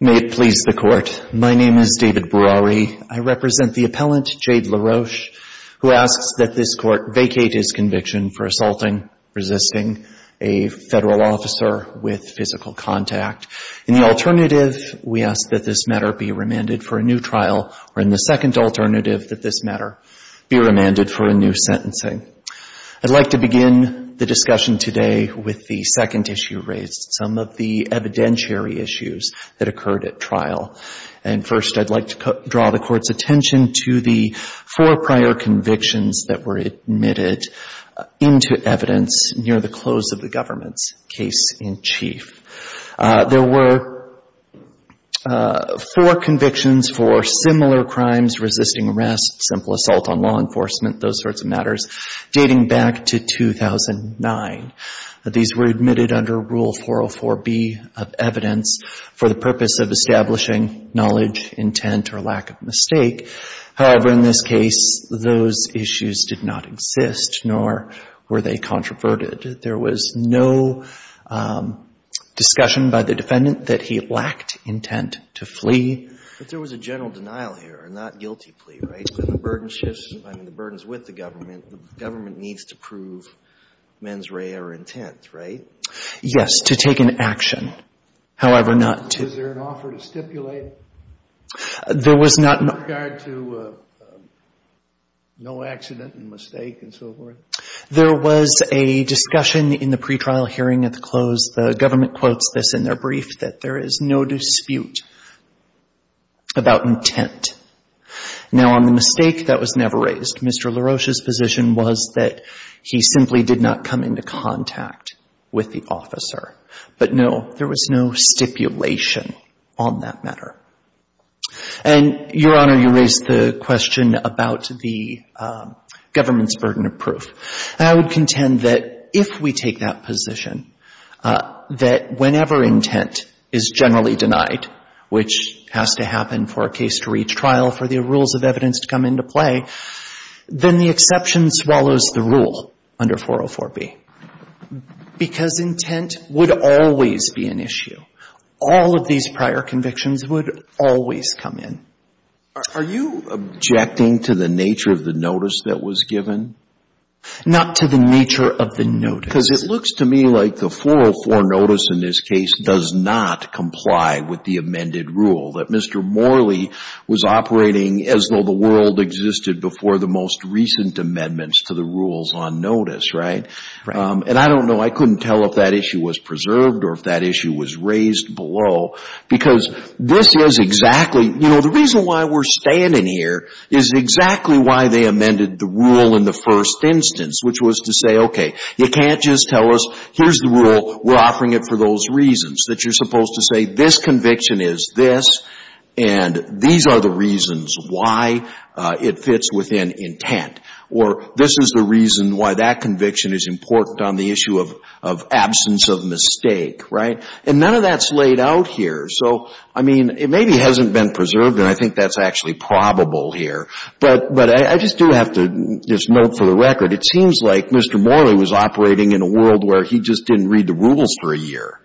May it please the Court, my name is David Browery. I represent the appellant Jade LaRoche who asks that this Court vacate his conviction for assaulting, resisting a Federal officer with physical contact. In the alternative, we ask that this matter be remanded for a new trial, or in the second alternative, that this matter be remanded for a new sentencing. I'd like to begin the discussion today with the second issue raised, some of the evidentiary issues that occurred at trial. And first, I'd like to draw the Court's attention to the four prior convictions that were admitted into evidence near the close of the government's case in chief. There were four convictions for similar crimes, resisting arrest, simple assault on law enforcement, those sorts of matters, dating back to 2009. These were admitted under Rule 404B of evidence for the purpose of establishing knowledge, intent, or lack of mistake. However, in this case, those issues did not exist, nor were they controverted. There was no discussion by the defendant that he lacked intent to flee. But there was a general denial here, not guilty plea, right? So the burden shifts, I mean, the burden's with the government. The government needs to prove mens rea or intent, right? Yes, to take an action. However, not to Was there an offer to stipulate in regard to no accident and mistake and so forth? There was a discussion in the pretrial hearing at the close. The government quotes this in their brief, that there is no dispute about intent. Now, on the mistake, that was never raised. Mr. LaRoche's position was that he simply did not come into contact with the officer. But no, there was no stipulation on that matter. And, Your Honor, you raised the question about the government's burden of proof. And I would contend that if we take that position, that whenever intent is generally denied, which has to happen for a case-to-reach trial for the rules of evidence to come into play, then the exception swallows the rule under 404B. Because intent would always be an issue. All of these prior convictions would always come in. Are you objecting to the nature of the notice that was given? Not to the nature of the notice. Because it looks to me like the 404 notice in this case does not comply with the amended rule, that Mr. Morley was operating as though the world existed before the most recent amendments to the rules on notice, right? And I don't know, I couldn't tell if that issue was preserved or if that issue was raised below. Because this is exactly, you know, the reason why we're standing here is exactly why they amended the rule in the first instance, which was to say, okay, you can't just tell us, here's the rule, we're offering it for those reasons. That you're supposed to say, this conviction is this, and these are the reasons why it fits within intent. Or this is the reason why that conviction is important on the issue of absence of mistake, right? And none of that's laid out here. So, I mean, it maybe hasn't been preserved, and I think that's actually probable here. But I just do have to just note for the record, it seems like Mr. Morley was operating in a world where he just didn't read the rules for a year.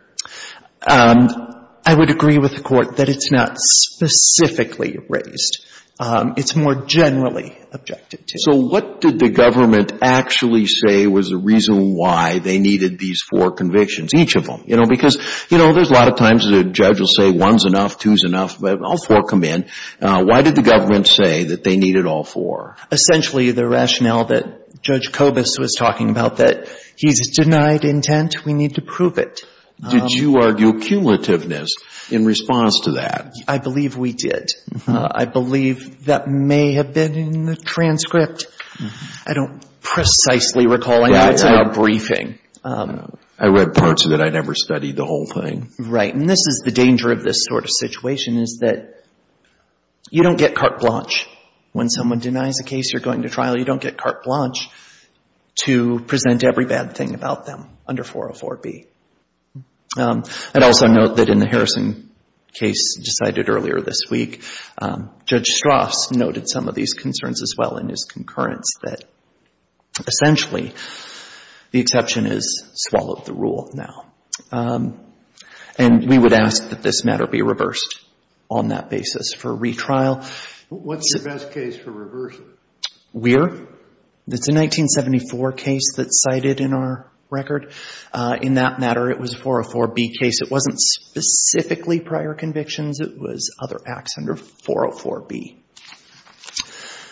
I would agree with the Court that it's not specifically raised. It's more generally objected to. So what did the government actually say was the reason why they needed these four convictions, each of them? You know, because, you know, there's a lot of times the judge will say one's enough, two's enough, but all four come in. Why did the government say that they needed all four? Essentially, the rationale that Judge Kobus was talking about, that he's denied intent, we need to prove it. Did you argue cumulativeness in response to that? I believe we did. I believe that may have been in the transcript. I don't precisely recall. Yeah, it's in our briefing. I read parts of it. I never studied the whole thing. Right. And this is the danger of this sort of situation is that you don't get carte blanche when someone denies a case you're going to trial. You don't get carte blanche to present every bad thing about them under 404B. I'd also note that in the Harrison case decided earlier this week, Judge Strauss noted some of these concerns as well in his concurrence that essentially the exception is swallow the rule now. And we would ask that this matter be reversed on that basis for retrial. What's your best case for reversing? Weir. It's a 1974 case that's cited in our record. In that matter, it was a 404B case. It wasn't specifically prior convictions. It was other acts under 404B.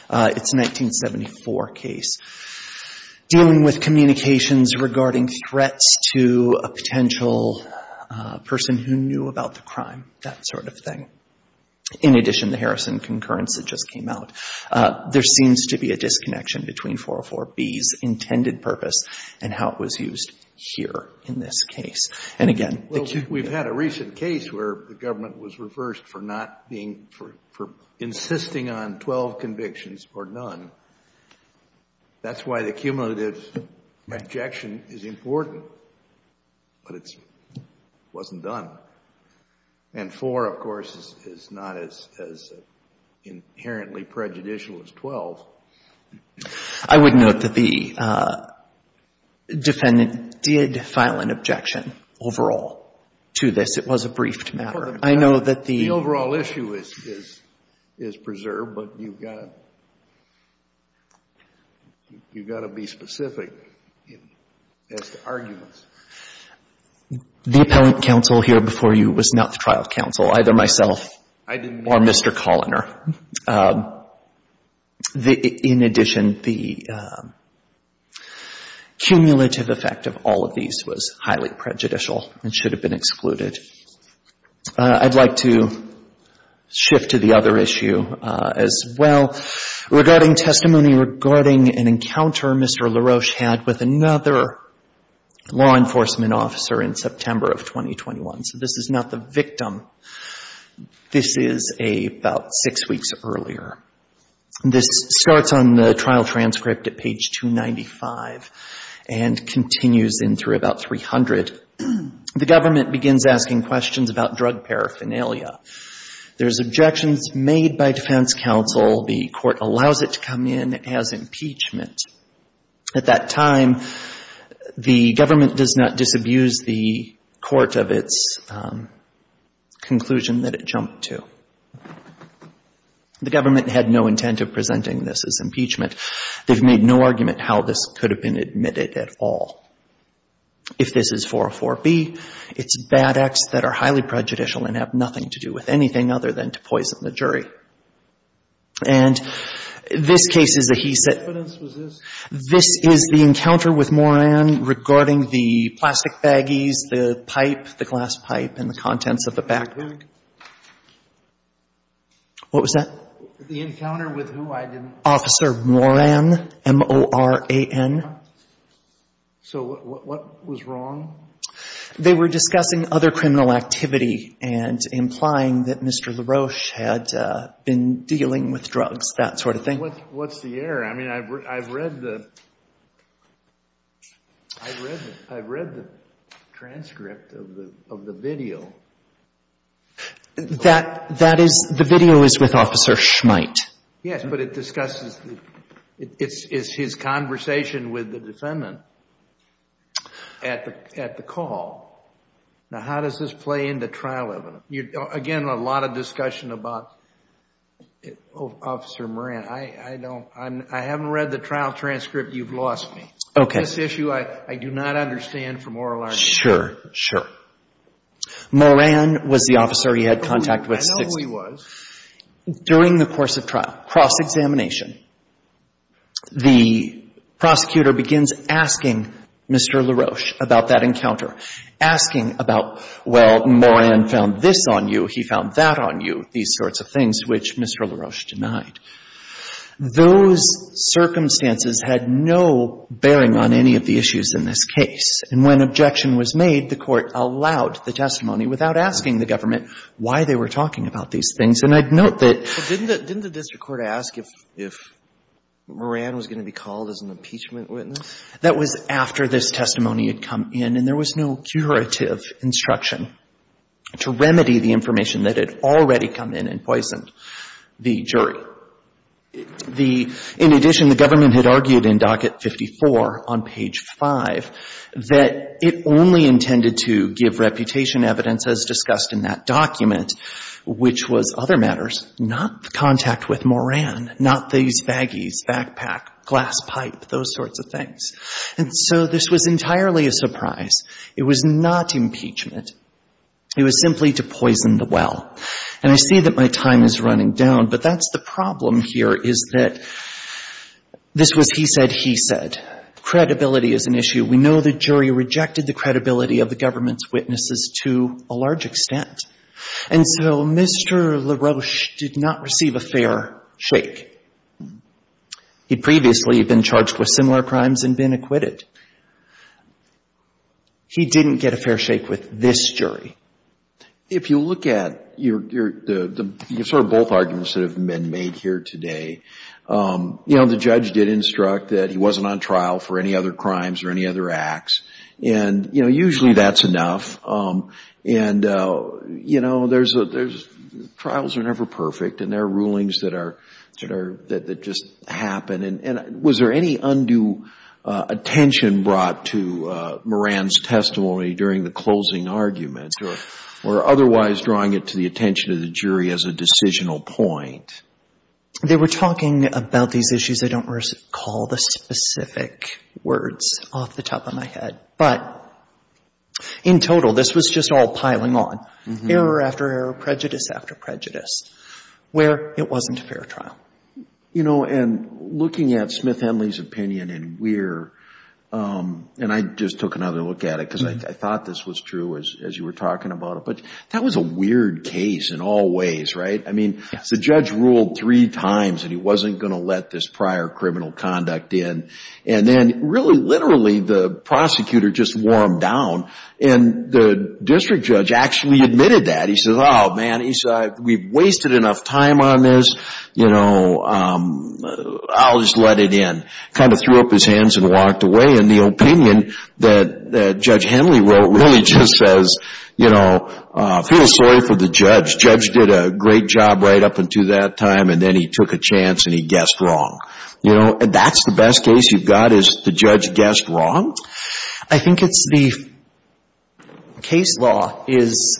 It's a 1974 case dealing with communications regarding threats to a potential person who knew about the crime, that sort of thing. In addition, the Harrison concurrence that just came out, there seems to be a disconnection between 404B's intended purpose and how it was used here in this case. And again... Well, we've had a recent case where the government was reversed for not being, for insisting on 12 convictions or none. That's why the cumulative rejection is important. But it wasn't done. And four, of course, is not as inherently prejudicial as 12. I would note that the defendant did file an objection overall to this. It was a briefed matter. I know that the... The overall issue is preserved, but you've got to be specific as to arguments. The appellant counsel here before you was not the trial counsel, either myself... I didn't know that. ...or Mr. Colliner. In addition, the cumulative effect of all of these was highly prejudicial and should have been excluded. I'd like to shift to the other issue as well. Regarding testimony regarding an encounter Mr. LaRoche had with another law enforcement officer in September of 2021. So this is not the victim. This is about six weeks earlier. This starts on the trial transcript at page 295 and continues in through about 300. The government begins asking questions about drug paraphernalia. There's objections made by defense counsel. The court allows it to come in as impeachment. At that time, the government does not disabuse the court of its conclusion that it jumped to. The government had no intent of presenting this as impeachment. They've made no argument how this could have been admitted at all. If this is 404B, it's bad acts that are highly prejudicial and have nothing to do with anything other than to poison the jury. And this case is a he-sit. What evidence was this? This is the encounter with Moran regarding the plastic baggies, the pipe, the glass pipe, and the contents of the bag. What was that? The encounter with who? I didn't... Officer Moran. M-O-R-A-N. So what was wrong? They were discussing other criminal activity and implying that Mr. LaRoche had been dealing with drugs, that sort of thing. What's the error? I mean, I've read the transcript of the video. The video is with Officer Schmite. Yes, but it discusses his conversation with the defendant at the call. Now, how does this play into trial evidence? Again, a lot of discussion about Officer Moran. I haven't read the trial transcript. You've lost me. Okay. This issue, I do not understand from oral argument. Sure, sure. Moran was the officer he had contact with. I know he was. During the course of trial, cross-examination, the prosecutor begins asking Mr. LaRoche about that encounter. Asking about, well, Moran found this on you, he found that on you, these sorts of things, which Mr. LaRoche denied. Those circumstances had no bearing on any of the issues in this case. And when objection was made, the court allowed the testimony without asking the government why they were talking about these things. And I'd note that... But didn't the district court ask if Moran was going to be called as an impeachment witness? That was after this testimony had come in, and there was no curative instruction to remedy the information that had already come in and poisoned the jury. In addition, the government had argued in Docket 54 on page 5 that it only intended to give reputation evidence as discussed in that document, which was other matters, not the contact with Moran, not these baggies, backpack, glass pipe, those sorts of things. And so this was entirely a surprise. It was not impeachment. It was simply to poison the well. And I see that my time is running down, but that's the problem here is that this was he said, he said. Credibility is an issue. We know the jury rejected the credibility of the government's witnesses to a large extent. And so Mr. LaRoche did not receive a fair shake. He'd previously been charged with similar crimes and been acquitted. He didn't get a fair shake with this jury. If you look at your sort of both arguments that have been made here today, you know, the judge did instruct that he wasn't on trial for any other crimes or any other acts. And, you know, usually that's enough. And, you know, there's, trials are never perfect and there are rulings that are, that just happen. And was there any undue attention brought to Moran's testimony during the closing arguments or otherwise drawing it to the attention of the jury as a decisional point? They were talking about these issues. I don't recall the specific words off the top of my head, but in total, this was just all piling on. Error after error, prejudice after prejudice, where it wasn't a fair trial. You know, and looking at Smith-Henley's opinion and we're, and I just took another look at it because I thought this was true as you were talking about it, but that was a weird case in all ways, right? I mean, the judge ruled three times that he wasn't going to let this prior criminal conduct in. And then really literally the prosecutor just wore him down. And the district judge actually admitted that. He says, oh man, we've wasted enough time on this, you know, I'll just let it in. Kind of threw up his hands and walked away. And the opinion that Judge Henley wrote really just says, you know, feel sorry for the judge. Judge did a great job right up until that time and then he took a chance and he guessed wrong. You know, that's the best case you've got is the judge guessed wrong? I think it's the case law is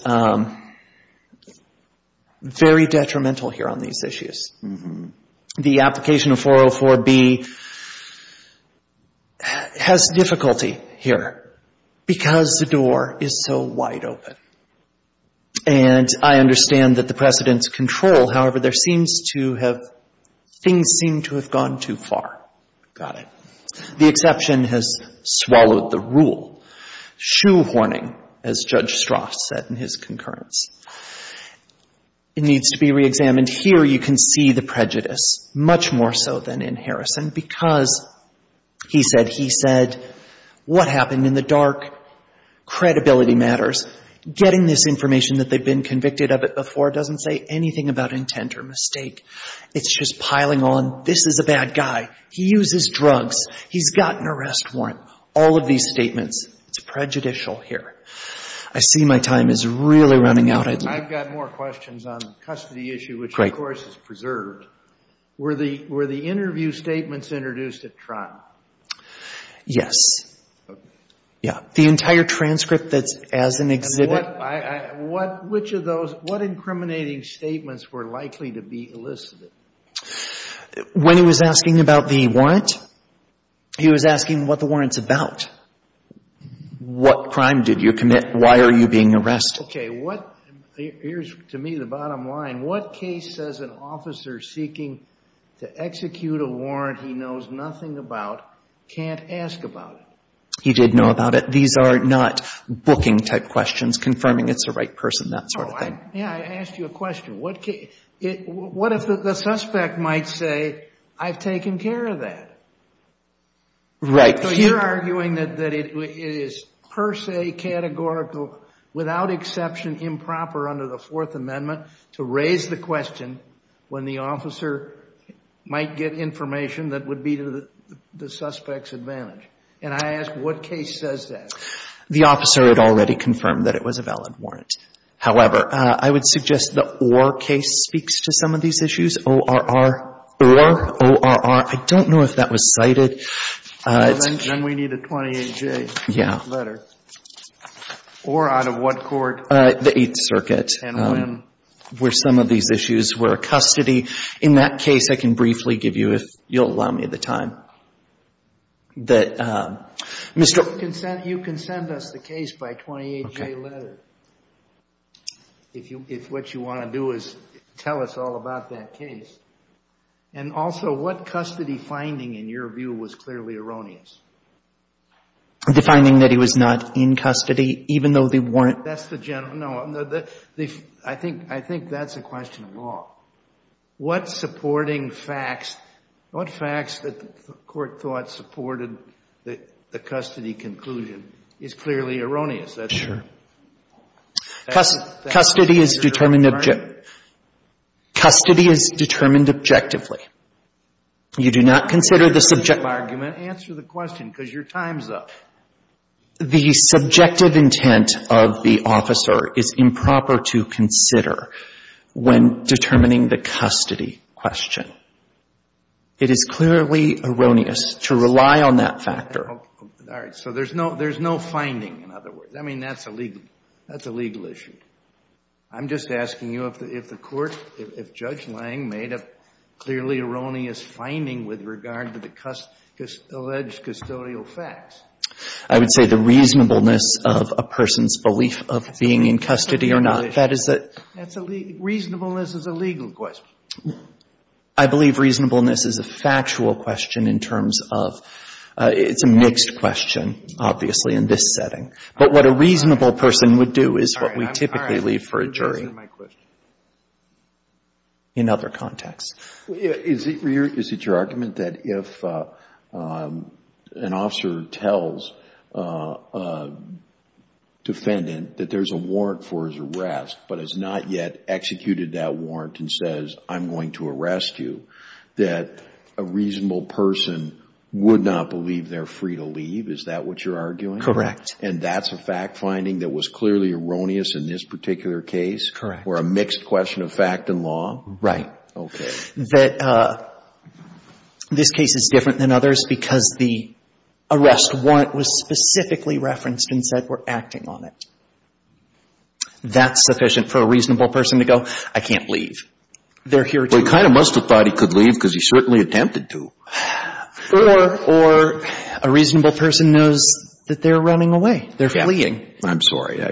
very detrimental here on these issues. The application of 404B has difficulty here because the door is so wide open. And I understand that the precedent's control, however, there seems to have, things seem to have gone too far. Got it. The exception has swallowed the rule. Shoehorning, as Judge Strass said in his concurrence. It needs to be reexamined. Here you can see the prejudice, much more so than in Harrison, because he said, he said, what happened in the dark? Credibility matters. Getting this information that they've been convicted of it before doesn't say anything about intent or mistake. It's just piling on, this is a bad guy. He uses drugs. He's got an arrest warrant. All of these I've got more questions on the custody issue, which of course is preserved. Were the interview statements introduced at trial? Yes. Yeah. The entire transcript that's as an exhibit. Which of those, what incriminating statements were likely to be elicited? When he was asking about the warrant, he was asking what the warrant's about. What crime did you commit? Why are you being arrested? Okay. What, here's to me the bottom line. What case says an officer seeking to execute a warrant he knows nothing about, can't ask about it? He did know about it. These are not booking type questions, confirming it's the right person, that sort of thing. Yeah. I asked you a question. What if the suspect might say, I've taken care of that? Right. So you're arguing that it is per se categorical, without exception, improper under the Fourth Amendment to raise the question when the officer might get information that would be to the suspect's advantage. And I ask, what case says that? The officer had already confirmed that it was a valid warrant. However, I would suggest the case speaks to some of these issues, ORR or ORR. I don't know if that was cited. Then we need a 28-J letter. Yeah. Or out of what court? The Eighth Circuit. And when? Where some of these issues were custody. In that case, I can briefly give you, if you'll allow me the time, that Mr. You can send us the case by 28-J letter. Okay. If what you want to do tell us all about that case. And also, what custody finding, in your view, was clearly erroneous? The finding that he was not in custody, even though they weren't. That's the general. No. I think that's a question of law. What supporting facts, what facts that the court thought supported the custody conclusion is clearly erroneous. Sure. Custody is determined objectively. You do not consider the subject. Answer the question, because your time's up. The subjective intent of the officer is improper to consider when determining the custody question. It is clearly erroneous to rely on that factor. All right. So there's no finding, in other words. I mean, that's a legal issue. I'm just asking you if the court, if Judge Lange made a clearly erroneous finding with regard to the alleged custodial facts. I would say the reasonableness of a person's belief of being in custody or not. That is a reasonableness is a legal question. I believe reasonableness is a factual question in terms of, it's a mixed question, obviously, in this setting. But what a reasonable person would do is what we typically leave for a jury in other contexts. Is it your argument that if an officer tells a defendant that there's a warrant for his arrest, but has not yet executed that warrant and says, I'm going to arrest you, that a reasonable person would not believe they're free to leave? Is that what you're arguing? Correct. And that's a fact finding that was clearly erroneous in this particular case? Correct. Or a mixed question of fact and law? Right. Okay. This case is different than others because the arrest warrant was specifically referenced and said, we're acting on it. That's sufficient for a reasonable person to go, I can't leave. They're here to do it. Well, he kind of must have thought he could leave because he certainly attempted to. Or a reasonable person knows that they're running away. They're fleeing. I'm sorry.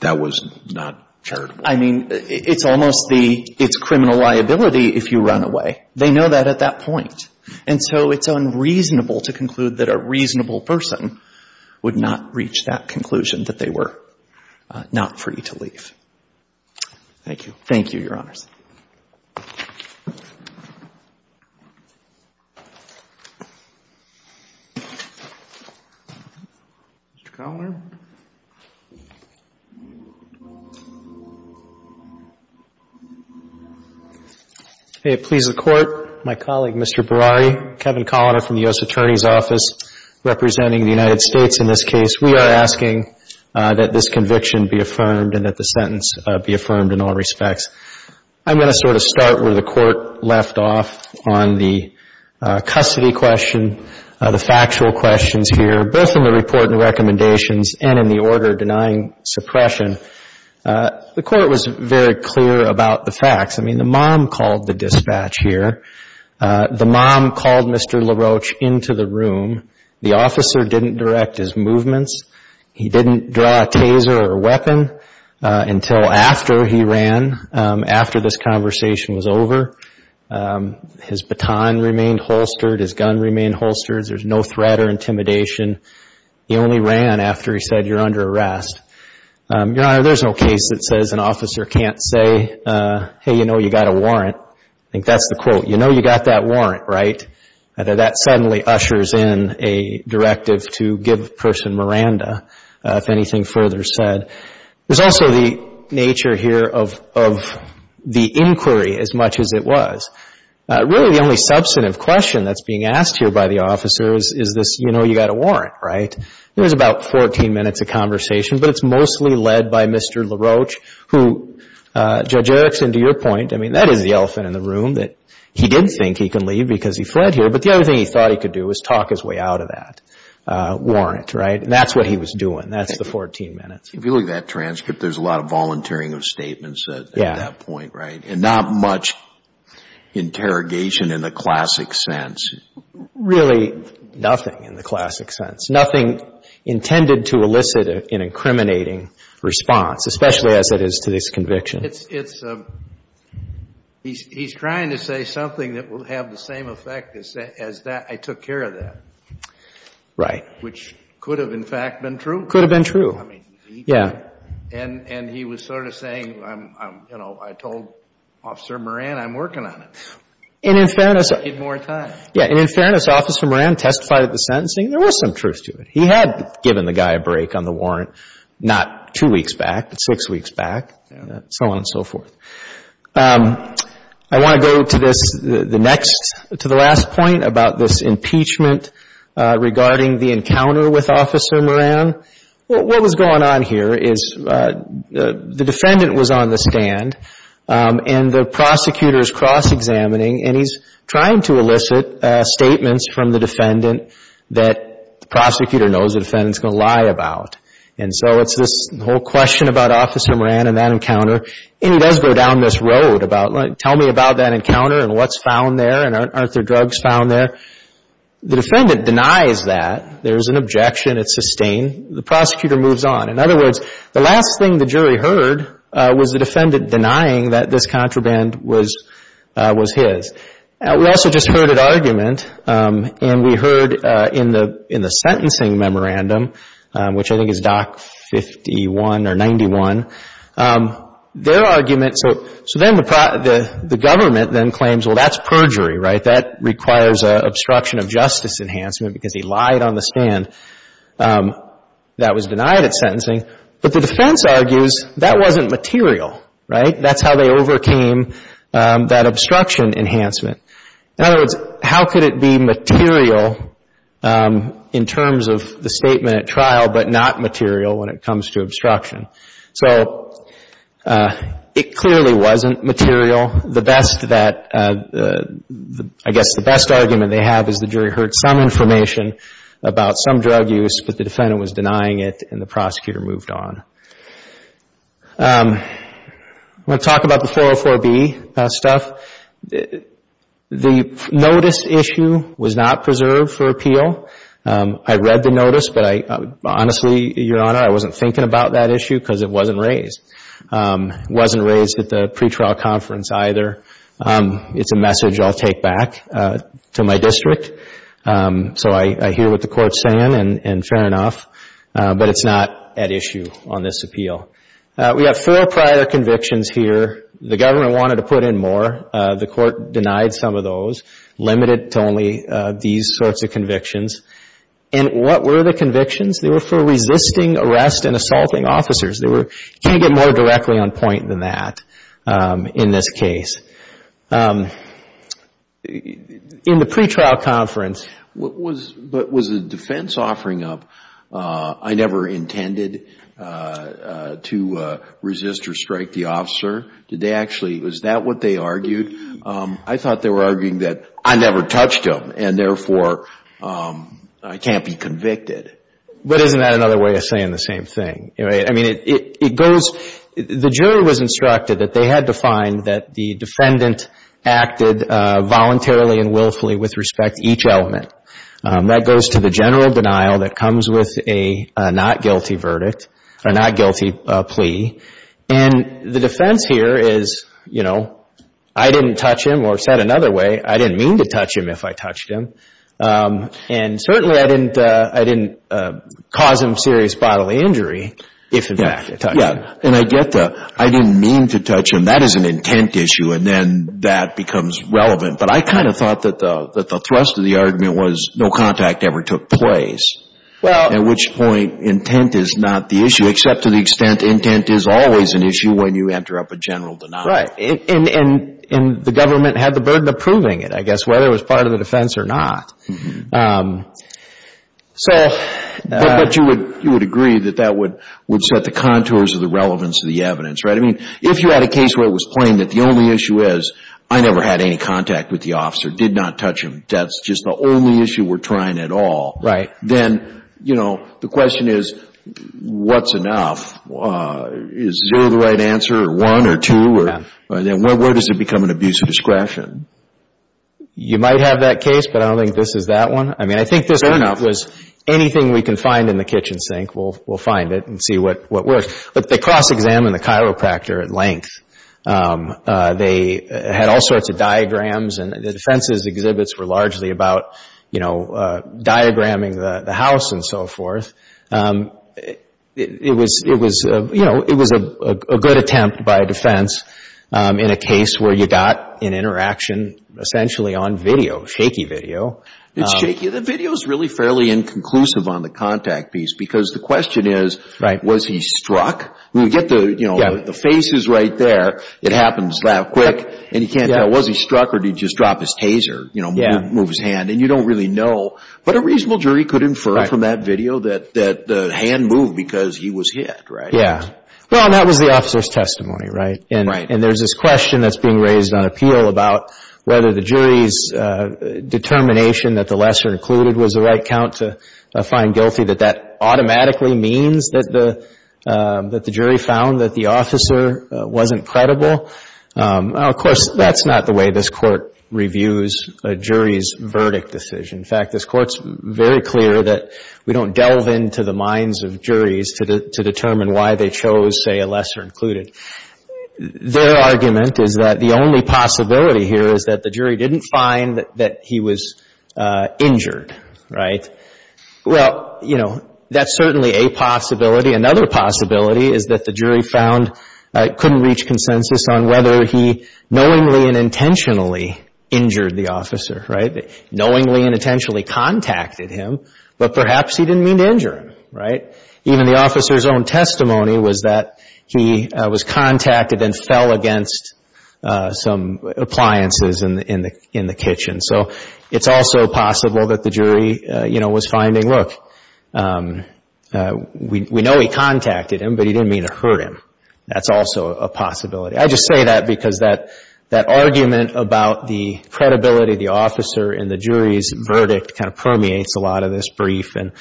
That was not charitable. I mean, it's almost the — it's criminal liability if you run away. They know that at that point. And so it's unreasonable to conclude that a reasonable person would not reach that conclusion, that they were not free to leave. Thank you. Thank you, Your Honors. Mr. Colliner? May it please the Court, my colleague, Mr. Berari, Kevin Colliner from the U.S. Attorney's Office, representing the United States in this case. We are asking that this conviction be affirmed and that the sentence be affirmed in all respects. I'm going to sort of start where the Court left off on the custody question, the factual questions here, both in the report and recommendations and in the order denying suppression. The Court was very clear about the facts. I mean, the mom called the dispatch here. The mom called Mr. LaRoche into the room. The officer didn't direct his movements. He didn't draw a taser or a weapon until after he ran, after this conversation was over. His baton remained holstered. His gun remained holstered. There's no threat or intimidation. He only ran after he said, you're under arrest. Your Honor, there's no case that says an officer can't say, hey, you know, you got a warrant. I think that's the quote. You know you got that a directive to give the person Miranda, if anything further said. There's also the nature here of the inquiry as much as it was. Really, the only substantive question that's being asked here by the officer is this, you know, you got a warrant, right? It was about 14 minutes of conversation, but it's mostly led by Mr. LaRoche, who, Judge Erickson, to your point, I mean, that is the elephant in the room, that he did think he could leave because he fled here, but the other thing he thought he could do is talk his way out of that warrant, right? And that's what he was doing. That's the 14 minutes. If you look at that transcript, there's a lot of volunteering of statements at that point, right? And not much interrogation in the classic sense. Really nothing in the classic sense. Nothing intended to elicit an incriminating response, especially as it is to this conviction. It's a, he's trying to say something that will have the same effect as that I took care of that. Right. Which could have, in fact, been true. Could have been true. I mean, he did. Yeah. And he was sort of saying, you know, I told Officer Moran I'm working on it. And in fairness. I need more time. Yeah. And in fairness, Officer Moran testified at the sentencing. There was some truth to it. He had given the guy a break on the warrant, not two weeks back, but six weeks back. So on and so forth. I want to go to this, the next, to the last point about this impeachment regarding the encounter with Officer Moran. What was going on here is the defendant was on the stand and the prosecutor is cross-examining and he's trying to elicit statements from the defendant that the prosecutor knows the defendant is going to lie about. And so it's this whole question about Officer Moran and that encounter. And he does go down this road about, tell me about that encounter and what's found there and aren't there drugs found there. The defendant denies that. There's an objection. It's sustained. The prosecutor moves on. In other words, the last thing the jury heard was the defendant denying that this contraband was his. We also just heard an argument. And we heard in the sentencing memorandum, which I think is Doc 51 or 91, their argument. So then the government then claims, well, that's perjury, right? That requires an obstruction of justice enhancement because he lied on the stand. That was denied at sentencing. But the defense argues that wasn't material, right? That's how they overcame that obstruction enhancement. In other words, how could it be material in terms of the statement at trial but not material when it comes to obstruction? So it clearly wasn't material. The best that, I guess the best argument they have is the jury heard some information about some drug use, but the defendant was denying it and the prosecutor moved on. I'm going to talk about the 404B stuff. The notice issue was not preserved for appeal. I read the notice, but honestly, Your Honor, I wasn't thinking about that issue because it wasn't raised. It wasn't raised at the pretrial conference either. So I hear what the Court's saying and fair enough, but it's not at issue on this appeal. We have four prior convictions here. The government wanted to put in more. The Court denied some of those, limited to only these sorts of convictions. And what were the convictions? They were for resisting arrest and assaulting officers. They were, you can't get more directly on point than that in this case. In the pretrial conference. What was, but was the defense offering up, I never intended to resist or strike the officer? Did they actually, was that what they argued? I thought they were arguing that I never touched him and therefore I can't be convicted. But isn't that another way of saying the same thing? I mean, it goes, the jury was instructed that they had to find that the defendant acted voluntarily and willfully with respect to each element. That goes to the general denial that comes with a not guilty verdict or not guilty plea. And the defense here is, you know, I didn't touch him or said another way, I didn't mean to touch him if I touched him. And certainly I didn't cause him serious bodily injury. Yeah, and I get the, I didn't mean to touch him. That is an intent issue and then that becomes relevant. But I kind of thought that the thrust of the argument was no contact ever took place. At which point intent is not the issue, except to the extent intent is always an issue when you enter up a general denial. Right, and the government had the burden of proving it, I guess, whether it was part of the defense or not. But you would agree that that would set the contours of the relevance of the evidence, right? I mean, if you had a case where it was plain that the only issue is, I never had any contact with the officer, did not touch him, that's just the only issue we're trying at all. Right. Then, you know, the question is, what's enough? Is zero the right answer or one or two? Where does it become an abuse of discretion? You might have that case, but I don't think this is that one. I mean, I think this one was anything we can find in the kitchen sink, we'll find it and see what works. But they cross-examined the chiropractor at length. They had all sorts of diagrams and the defense's exhibits were largely about, you know, diagramming the house and so forth. It was, you know, it was a good attempt by a defense in a case where you got an interaction essentially on video, shaky video. It's shaky. The video's really fairly inconclusive on the contact piece because the question is, was he struck? We get the, you know, the face is right there. It happens that quick and you can't tell was he struck or did he just drop his taser, you know, move his hand and you don't really know. But a reasonable jury could infer from that video that the hand moved because he was hit, right? Yeah. Well, that was the officer's testimony, right? And there's this question that's being raised on appeal about whether the jury's determination that the lesser included was the right count to find guilty, that that automatically means that the jury found that the officer wasn't credible. Of course, that's not the way this court reviews a jury's verdict decision. In fact, this court's very clear that we don't delve into the minds of juries to determine why they chose, say, a lesser included. Their argument is that the only possibility here is that the jury didn't find that he was injured, right? Well, you know, that's certainly a possibility. Another possibility is that the jury found, couldn't reach consensus on whether he knowingly and intentionally injured the officer, right? Knowingly and intentionally contacted him, but perhaps he didn't mean to injure him, right? Even the officer's own testimony was that he was contacted and fell against some appliances in the kitchen. So it's also possible that the jury, you know, was finding, look, we know he contacted him, but he didn't mean to hurt him. That's also a possibility. I just say that because that argument about the credibility of the officer in the jury's verdict kind of permeates a lot of this brief, and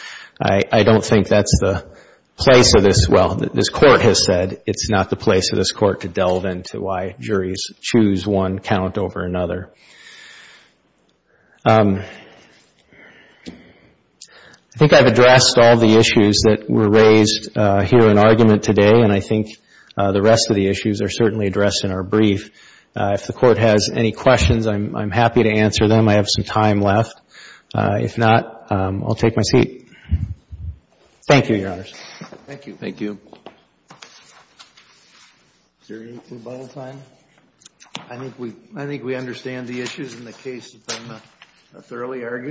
I don't think that's the place of this. Well, this court has said it's not the place of this court to delve into why juries choose one count over another. I think I've addressed all the issues that were raised here in argument today, and I think the rest of the issues are certainly addressed in our brief. If the court has any questions, I'm happy to answer them. I have some time left. If not, I'll take my seat. Thank you, Your Honors. Thank you. Thank you. Is there anything by all time? I think we understand the issues and the case has been thoroughly argued.